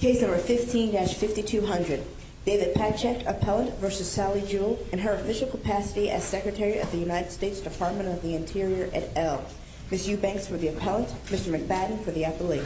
Case No. 15-5200 David Patchak, Appellant v. Sally Jewell in her official capacity as Secretary of the United States Department of the Interior at Elle Ms. Eubanks for the Appellant, Mr. McBadden for the Appellee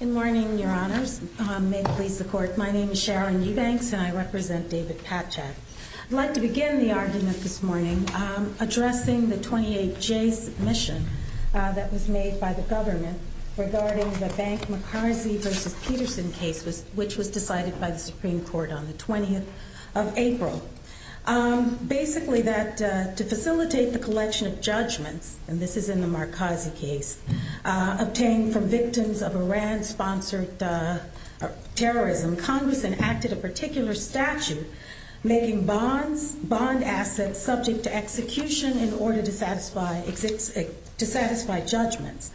Good morning, Your Honors. May it please the Court, my name is Sharon Eubanks and I represent David Patchak. I'd like to begin the argument this morning addressing the 28-J submission that was made by the government regarding the Bank-Marcazi v. Peterson case which was decided by the Supreme Court on the 20th of April. Basically, to facilitate the collection of judgments, and this is in the Marcazi case, obtained from victims of Iran-sponsored terrorism, Congress enacted a particular statute making bond assets subject to execution in order to satisfy judgments.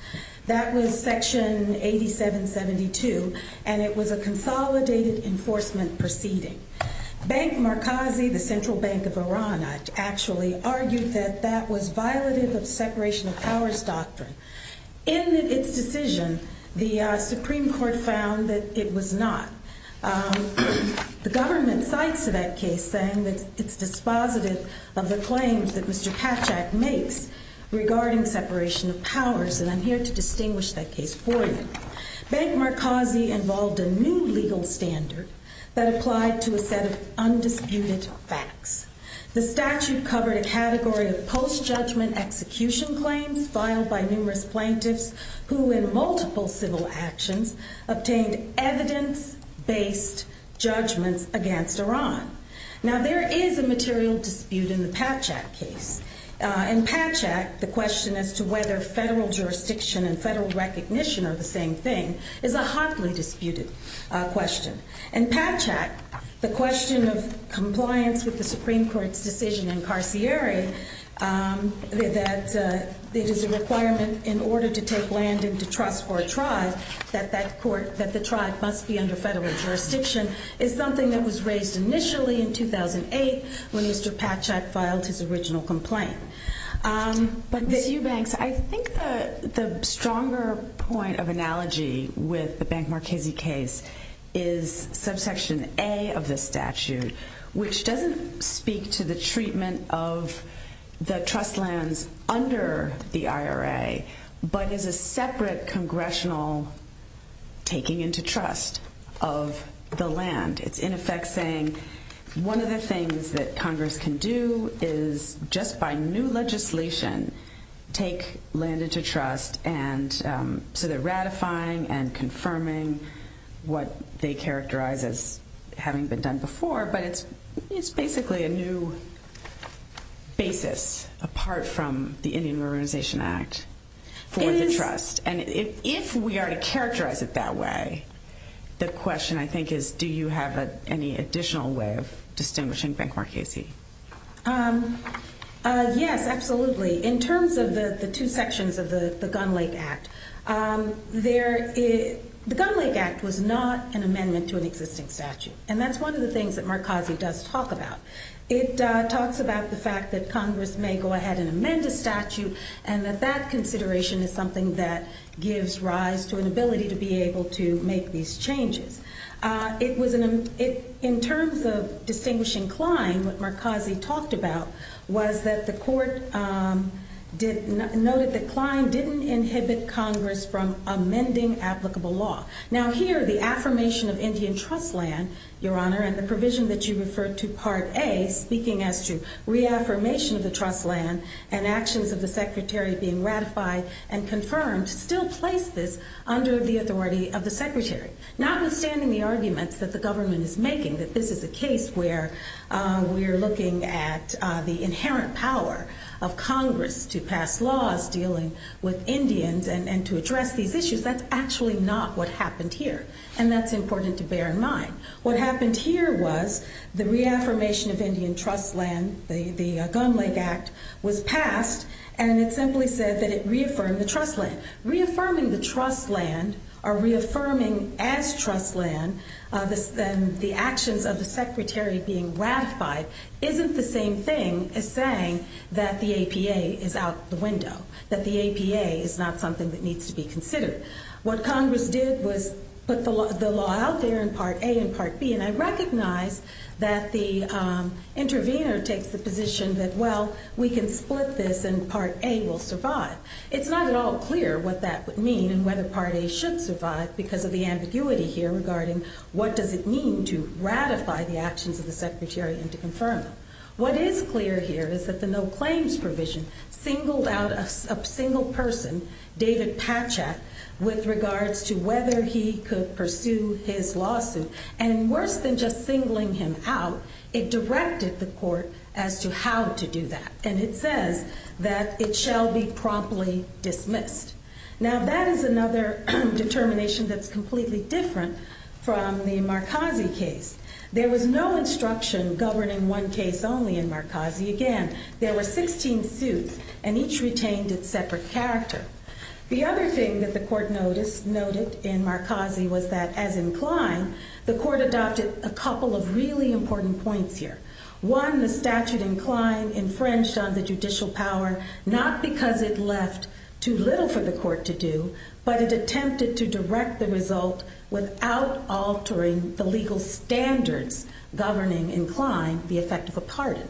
That was Section 8772, and it was a consolidated enforcement proceeding. Bank-Marcazi, the central bank of Iran, actually argued that that was violative of separation of powers doctrine. In its decision, the Supreme Court found that it was not. The government cites to that case saying that it's dispositive of the claims that Mr. Patchak makes regarding separation of powers, and I'm here to distinguish that case for you. Bank-Marcazi involved a new legal standard that applied to a set of undisputed facts. The statute covered a category of post-judgment execution claims filed by numerous plaintiffs who, in multiple civil actions, obtained evidence-based judgments against Iran. Now, there is a material dispute in the Patchak case. In Patchak, the question as to whether federal jurisdiction and federal recognition are the same thing is a hotly disputed question. In Patchak, the question of compliance with the Supreme Court's decision in Carcieri that it is a requirement in order to take land into trust for a tribe, that the tribe must be under federal jurisdiction is something that was raised initially in 2008 when Mr. Patchak filed his original complaint. Ms. Eubanks, I think the stronger point of analogy with the Bank-Marcazi case is subsection A of the statute, which doesn't speak to the treatment of the trust lands under the IRA, but is a separate congressional taking into trust of the land. It's, in effect, saying one of the things that Congress can do is, just by new legislation, take land into trust and so they're ratifying and confirming what they characterize as having been done before, but it's basically a new basis apart from the Indian Ruralization Act for the trust. And if we are to characterize it that way, the question, I think, is do you have any additional way of distinguishing Bank-Marcazi? Yes, absolutely. In terms of the two sections of the Gun Lake Act, the Gun Lake Act was not an amendment to an existing statute. And that's one of the things that Marcazi does talk about. It talks about the fact that Congress may go ahead and amend a statute and that that consideration is something that gives rise to an ability to be able to make these changes. In terms of distinguishing Klein, what Marcazi talked about was that the court noted that Klein didn't inhibit Congress from taking land into trust. And that's one of the things that Marcazi does talk about. The other thing that Marcazi does talk about is that Congress may go ahead and amend a statute and that's something that gives rise to an ability to be able to make these changes. And that's one of the things that Marcazi talks about. What happened here was the reaffirmation of Indian trust land, the Gun Lake Act, was passed and it simply said that it reaffirmed the trust land. Reaffirming the trust land or reaffirming as trust land the actions of the Secretary being ratified isn't the same thing as saying that the APA is out the window, that the APA is not something that needs to be considered. What Congress did was put the law out there in Part A and Part B and I recognize that the intervener takes the position that, well, we can split this and Part A will survive. It's not at all clear what that would mean and whether Part A should survive because of the ambiguity here regarding what does it mean to ratify the actions of the Secretary and to confirm them. What is clear here is that the no claims provision singled out a single person, David Patchak, with regards to whether he could pursue his lawsuit. And worse than just singling him out, it directed the court as to how to do that. And it says that it shall be promptly dismissed. Now that is another determination that's completely different from the Marcazi case. There was no instruction governing one case only in Marcazi. Again, there were 16 suits and each retained its separate character. The other thing that the court noted in Marcazi was that, as in Klein, the court adopted a couple of really important points here. One, the statute in Klein infringed on the judicial power, not because it left too little for the court to do, but it attempted to direct the result without altering the legal standards governing, in Klein, the effect of a pardon.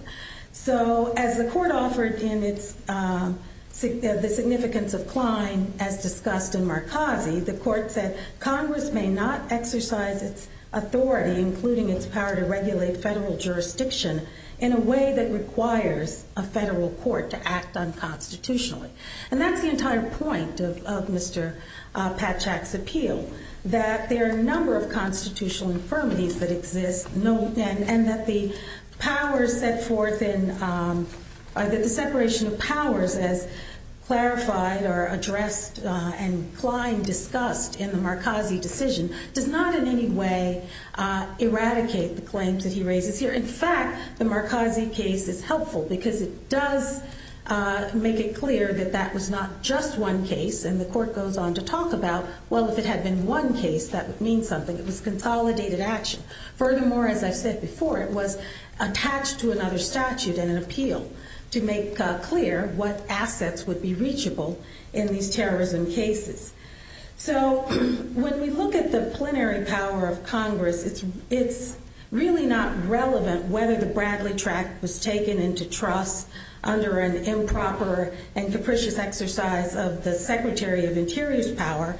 So, as the court offered in the significance of Klein, as discussed in Marcazi, the court said, Congress may not exercise its authority, including its power to regulate federal jurisdiction, in a way that requires a federal court to act unconstitutionally. And that's the entire point of Mr. Patchak's appeal, that there are a number of constitutional infirmities that exist, and that the powers set forth in, the separation of powers as clarified or addressed in Klein, discussed in the Marcazi decision, does not in any way eradicate the claims that he raises here. In fact, the Marcazi case is helpful because it does make it clear that that was not just one case, and the court goes on to talk about, well, if it had been one case, that would mean something. It was consolidated action. Furthermore, as I said before, it was attached to another statute in an appeal, to make clear what assets would be reachable in these terrorism cases. So, when we look at the plenary power of Congress, it's really not relevant whether the Bradley tract was taken into trust under an improper and capricious exercise of the Secretary of Interior's power,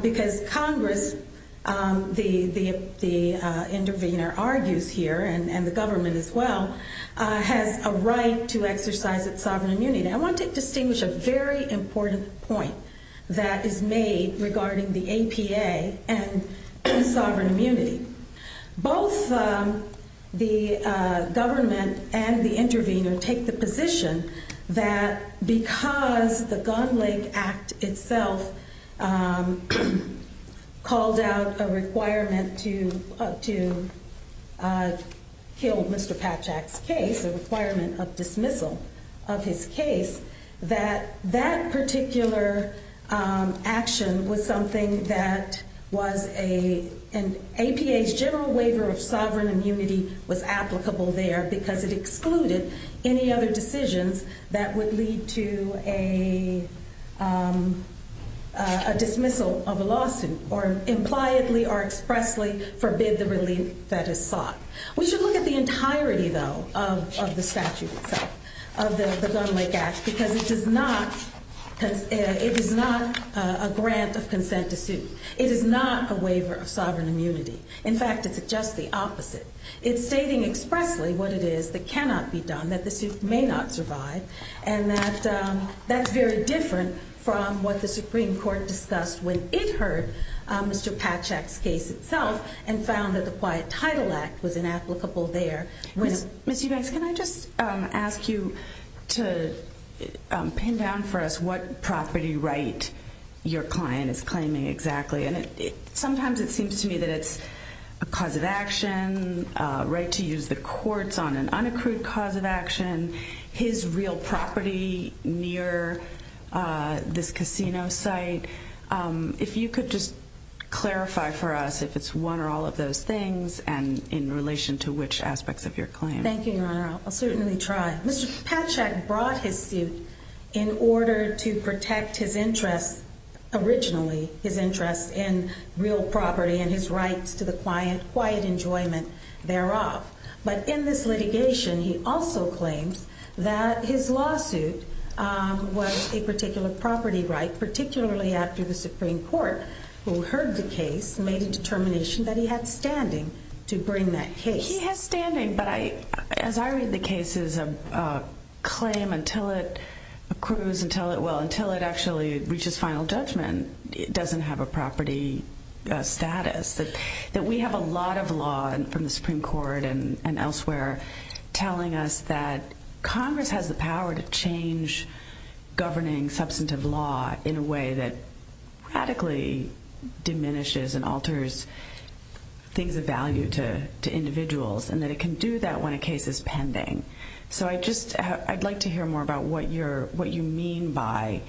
because Congress, the intervener argues here, and the government as well, has a right to exercise its sovereign immunity. I want to distinguish a very important point that is made regarding the APA and that is that because the Gunn-Lake Act itself called out a requirement to kill Mr. Patchak's case, a requirement of dismissal of his case, that that particular action was something that was an APA's general waiver of sovereign immunity was applicable there because it excluded any other decisions that would lead to a dismissal of a lawsuit, or impliedly or expressly forbid the relief that is sought. We should look at the entirety, though, of the statute itself, of the Gunn-Lake Act, because it is not a grant of consent to sue. It is not a waiver of sovereign immunity. In fact, it's just the opposite. It's stating expressly what it is that cannot be done, that the suit may not survive, and that's very different from what the Supreme Court discussed when it heard Mr. Patchak's case itself and found that the Quiet Title Act was inapplicable there. Ms. Eubanks, can I just ask you to pin down for us what property right your client is claiming exactly? Sometimes it seems to me that it's a cause of action, right to use the courts on an unaccrued cause of action, his real property near this casino site. If you could just clarify for us if it's one or all of those things, and in relation to which aspects of your claim. Thank you, Your Honor. I'll certainly try. Mr. Patchak brought his suit in order to protect his interests, originally his interests in real property and his rights to the quiet enjoyment thereof. But in this litigation, he also claims that his lawsuit was a particular property right, particularly after the Supreme Court, who heard the case, made a determination that he had standing to bring that case. He has standing, but as I read the cases, a claim until it accrues, until it actually reaches final judgment, it doesn't have a property status. That we have a lot of law from the Supreme Court and elsewhere telling us that Congress has the power to change governing substantive law in a way that radically diminishes and alters things of value to individuals, and that it can do that when a case is pending. So I'd like to hear more about what you mean by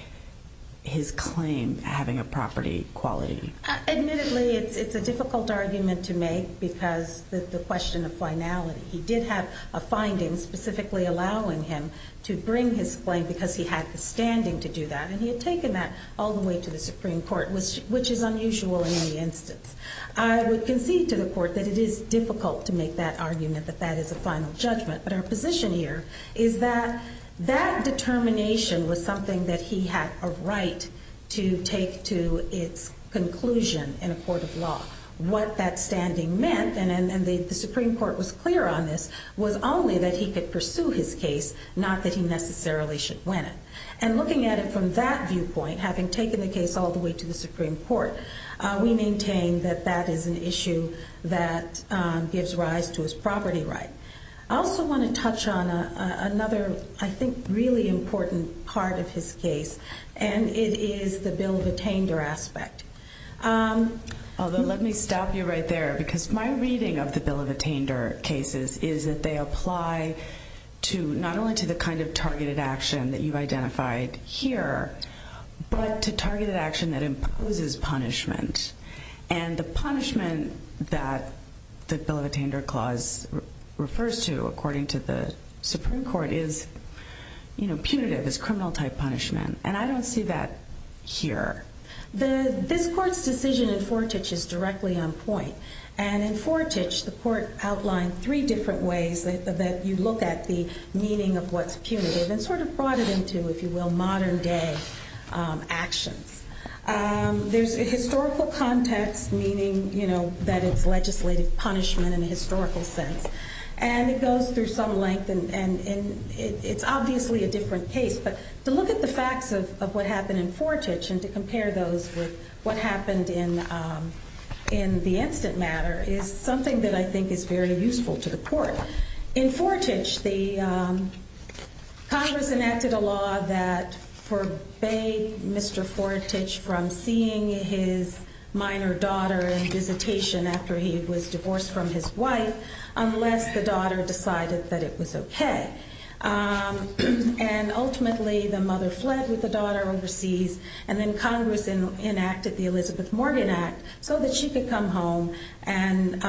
his claim having a property quality. Admittedly, it's a difficult argument to make because the question of finality. He did have a finding specifically allowing him to bring his claim because he had the standing to do that, and he had taken that all the way to the Supreme Court, which is unusual in any instance. I would concede to the Court that it is difficult to make that argument, that that is a final judgment, but our position here is that that determination was something that he had a right to take to its conclusion in a court of law. What that standing meant, and the Supreme Court was clear on this, was only that he could pursue his case, not that he necessarily should win it. And looking at it from that viewpoint, having taken the case all the way to the Supreme Court, we maintain that that is an issue that gives rise to his property right. I also want to touch on another, I think, really important part of his case, and it is the bill of attainder aspect. Although let me stop you right there, because my reading of the bill of attainder cases is that they apply not only to the kind of targeted action that you've identified here, but to targeted action that imposes punishment. And the punishment that the bill of attainder clause refers to, according to the Supreme Court, is punitive, is criminal type punishment, and I don't see that here. This Court's decision in Fortich is directly on point, and in Fortich the Court outlined three different ways that you look at the meaning of what's punitive, and sort of brought it into, if you will, modern day actions. There's a historical context, meaning, you know, that it's legislative punishment in a historical sense, and it goes through some length, and it's obviously a different case, but to look at the facts of what happened in Fortich, and to compare those with what happened in the instant matter, is something that I think is very useful to the Court. In Fortich, the Congress enacted a law that forbade Mr. Fortich from seeing his minor daughter in visitation after he was divorced from his wife, unless the daughter decided that it was okay. And ultimately the mother fled with the daughter overseas, and then Congress enacted the Elizabeth Morgan Act so that she could come home, and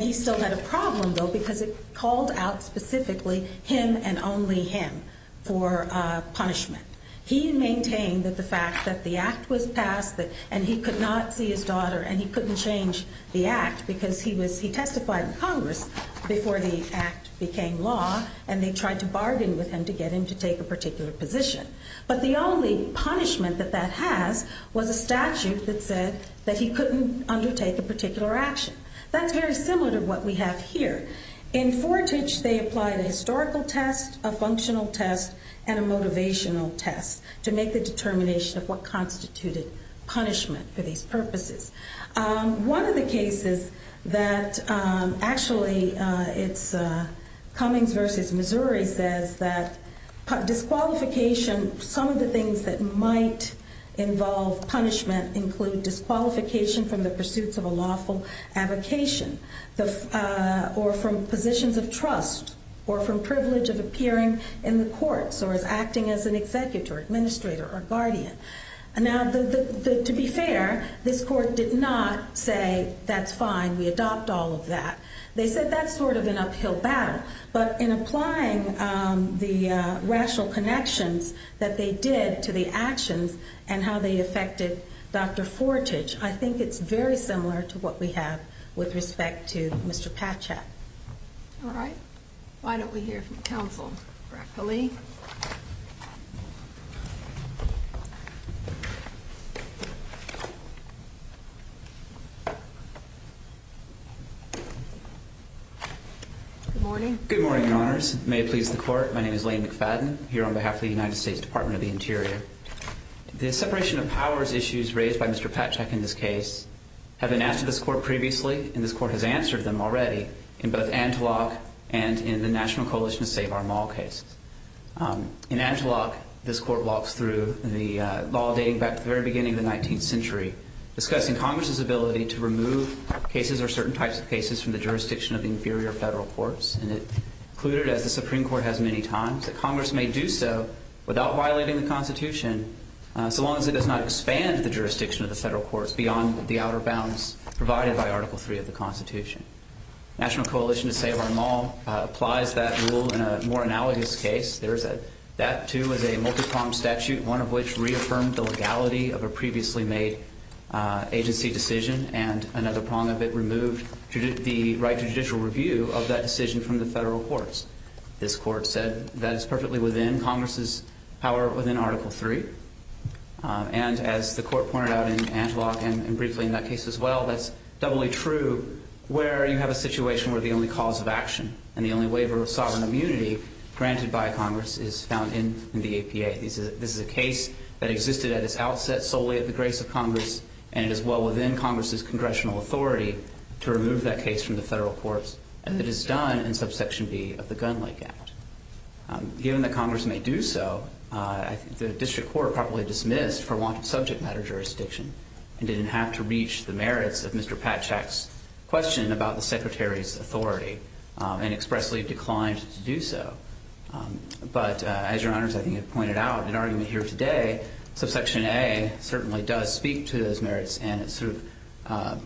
he still had a problem though, because it called out specifically him and only him for punishment. He maintained that the fact that the Act was passed, and he could not see his daughter, and he couldn't change the Act, because he testified in Congress before the Act became law, and they tried to bargain with him to get him to take a particular position. But the only punishment that that has was a statute that said that he couldn't undertake a particular action. That's very similar to what we have here. In Fortich, they applied a historical test, a functional test, and a motivational test to make the determination of what constituted punishment for these purposes. One of the things that might involve punishment include disqualification from the pursuits of a lawful advocation, or from positions of trust, or from privilege of appearing in the courts, or as acting as an executor, administrator, or guardian. To be fair, this Court did not say, that's fine, we adopt all of that. They said that's sort of an uphill battle, but in applying the rational connections that they did to the actions, and how they affected Dr. Fortich, I think it's very similar to what we have with respect to Mr. Patchett. All right. Why don't we hear from counsel, roughly. Good morning. Good morning, Your Honors. May it please the Court, my name is Lane McFadden, here on behalf of the United States Department of the Interior. The separation of powers issues raised by Mr. Patchett in this case have been asked to this Court previously, and this Court has answered them already, in both Anteloc and in the National Coalition to Save Our Mall case. In Anteloc, this Court walks through the law dating back to the very beginning of the 19th century, discussing Congress's ability to remove cases or certain types of cases from the jurisdiction of inferior federal courts, and it included, as the Supreme Court has many times, that Congress may do so without violating the Constitution, so long as it does not expand the jurisdiction of the federal courts beyond the outer bounds provided by Article 3 of the Constitution. National Coalition to Save Our Mall applies that rule in a more analogous case. That, too, is a multi-pronged statute, one of which reaffirmed the legality of a previously made agency decision, and another prong of it removed the right to judicial review of that decision from the federal courts. This Court said that is perfectly within Congress's power within Article 3, and as the Court pointed out in that case as well, that's doubly true where you have a situation where the only cause of action and the only waiver of sovereign immunity granted by Congress is found in the APA. This is a case that existed at its outset solely at the grace of Congress, and it is well within Congress's congressional authority to remove that case from the federal courts, and it is done in Subsection B of the Gun Lake Act. Given that Congress may do so, I think the District Court properly dismissed for want of subject matter jurisdiction and didn't have to reach the merits of Mr. Patchak's question about the Secretary's authority, and expressly declined to do so. But as Your Honors, I think, have pointed out in argument here today, Subsection A certainly does speak to those merits, and it sort of,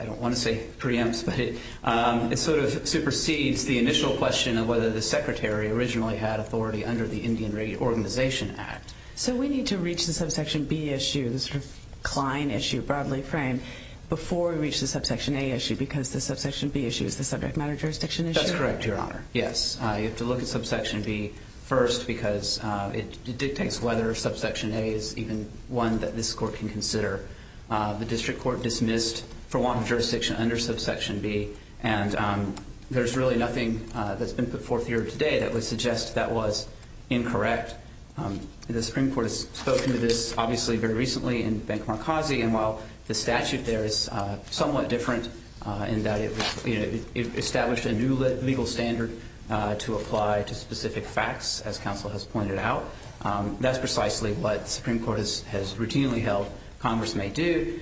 I don't want to say preempts, but it sort of supersedes the initial question of whether the Secretary originally had authority under the Indian Rate Organization Act. So we need to reach the Subsection B issue, the sort of Klein issue, broadly framed, before we reach the Subsection A issue, because the Subsection B issue is the subject matter jurisdiction issue? That's correct, Your Honor. Yes. You have to look at Subsection B first, because it dictates whether Subsection A is even one that this Court can consider. The District Court dismissed for want of jurisdiction under Subsection B, and there's really nothing that's been put forth here today that would suggest that was incorrect. The Supreme Court has spoken to this, obviously, very recently in Bank Markazi, and while the statute there is somewhat different in that it established a new legal standard to apply to specific facts, as counsel has pointed out, that's precisely what the Supreme Court has routinely held Congress may do.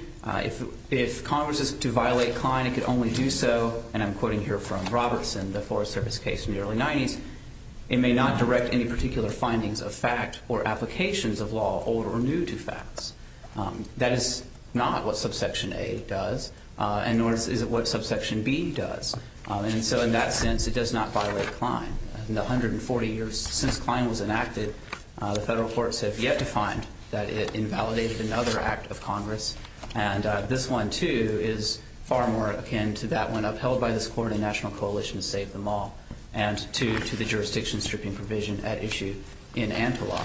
If Congress is to violate Klein, it could only do so, and I'm quoting here from Robertson, the Forest Service case in the early 90s, it may not direct any particular findings of fact or applications of law old or new to facts. That is not what Subsection A does, and nor is it what Subsection B does. And so in that sense, it does not violate Klein. In the 140 years since Klein was enacted, the federal courts have yet to find that it invalidated another act of Congress, and this one, too, is far more akin to that one upheld by this Court in the National Coalition to Save the Mall and to the jurisdiction stripping provision at issue in Antelope.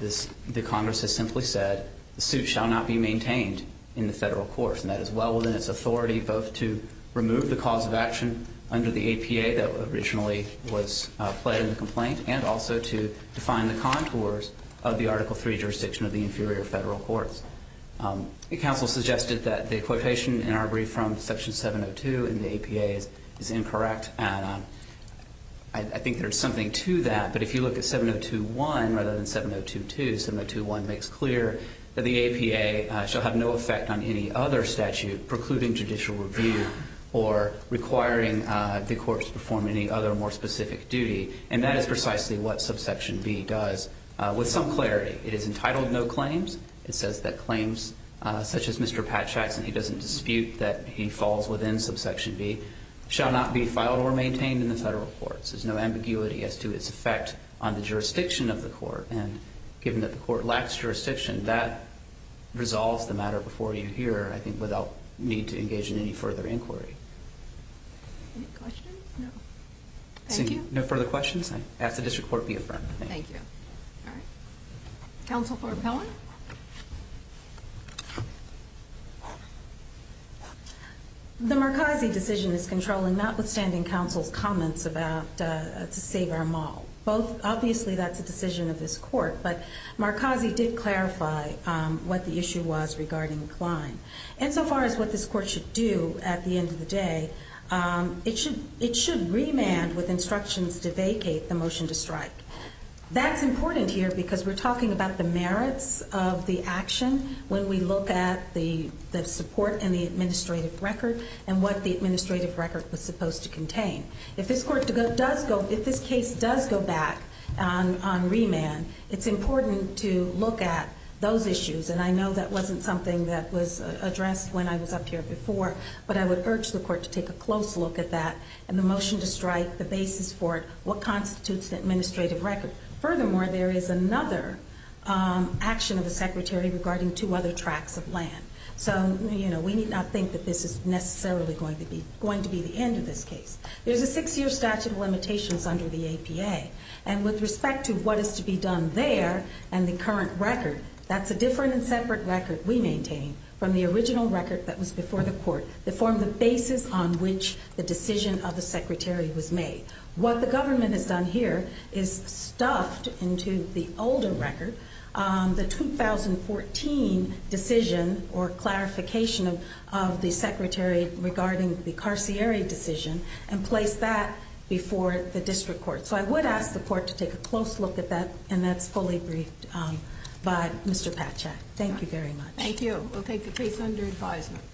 The Congress has simply said the suit shall not be maintained in the federal courts, and that is well within its authority both to remove the cause of action under the APA that originally was pled in the complaint and also to define the contours of the Article III jurisdiction of the inferior federal courts. Counsel suggested that the quotation in our brief from Section 702 in the APA is incorrect, and I think there's something to that, but if you look at 702.1 rather than 702.2, 702.1 makes clear that the APA shall have no effect on any other statute precluding judicial review or requiring the courts to perform any other more specific duty, and that is precisely what Subsection B does with some clarity. It is entitled No Claims. It says that claims such as Mr. Patchak's, and he doesn't dispute that he falls within Subsection B, shall not be filed or maintained in the federal courts. There's no ambiguity as to its effect on the jurisdiction of the court, and given that the court lacks jurisdiction, that resolves the matter before you here, I think, without need to engage in any further inquiry. Any questions? No. Thank you. No further comment? The Marcazi decision is controlling notwithstanding counsel's comments about to save our mall. Both, obviously that's a decision of this court, but Marcazi did clarify what the issue was regarding recline. And so far as what this court should do at the end of the day, it should remand with instructions to vacate the motion to strike. That's important here because we're talking about the merits of the action when we look at the support and the administrative record and what the administrative record was supposed to contain. If this court does go, if this case does go back on remand, it's important to look at those issues, and I know that wasn't something that was addressed when I was up here before, but I would urge the court to take a close look at that and the motion to strike, the basis for it, what constitutes the administrative record. Furthermore, there is another action of the secretary regarding two other tracts of land. So, you know, we need not think that this is necessarily going to be the end of this case. There's a six-year statute of limitations under the APA, and with respect to what is to be done there and the current record, that's a different and separate record we maintain from the original record that was before the court that formed the basis on which the decision of the secretary was made. What the government has done here is stuffed into the older record the 2014 decision or clarification of the secretary regarding the carciary decision and placed that before the district court. So I would ask the court to take a close look at that, and that's fully briefed by Mr. Patchak. Thank you very much. Thank you. We'll take the case under advisement.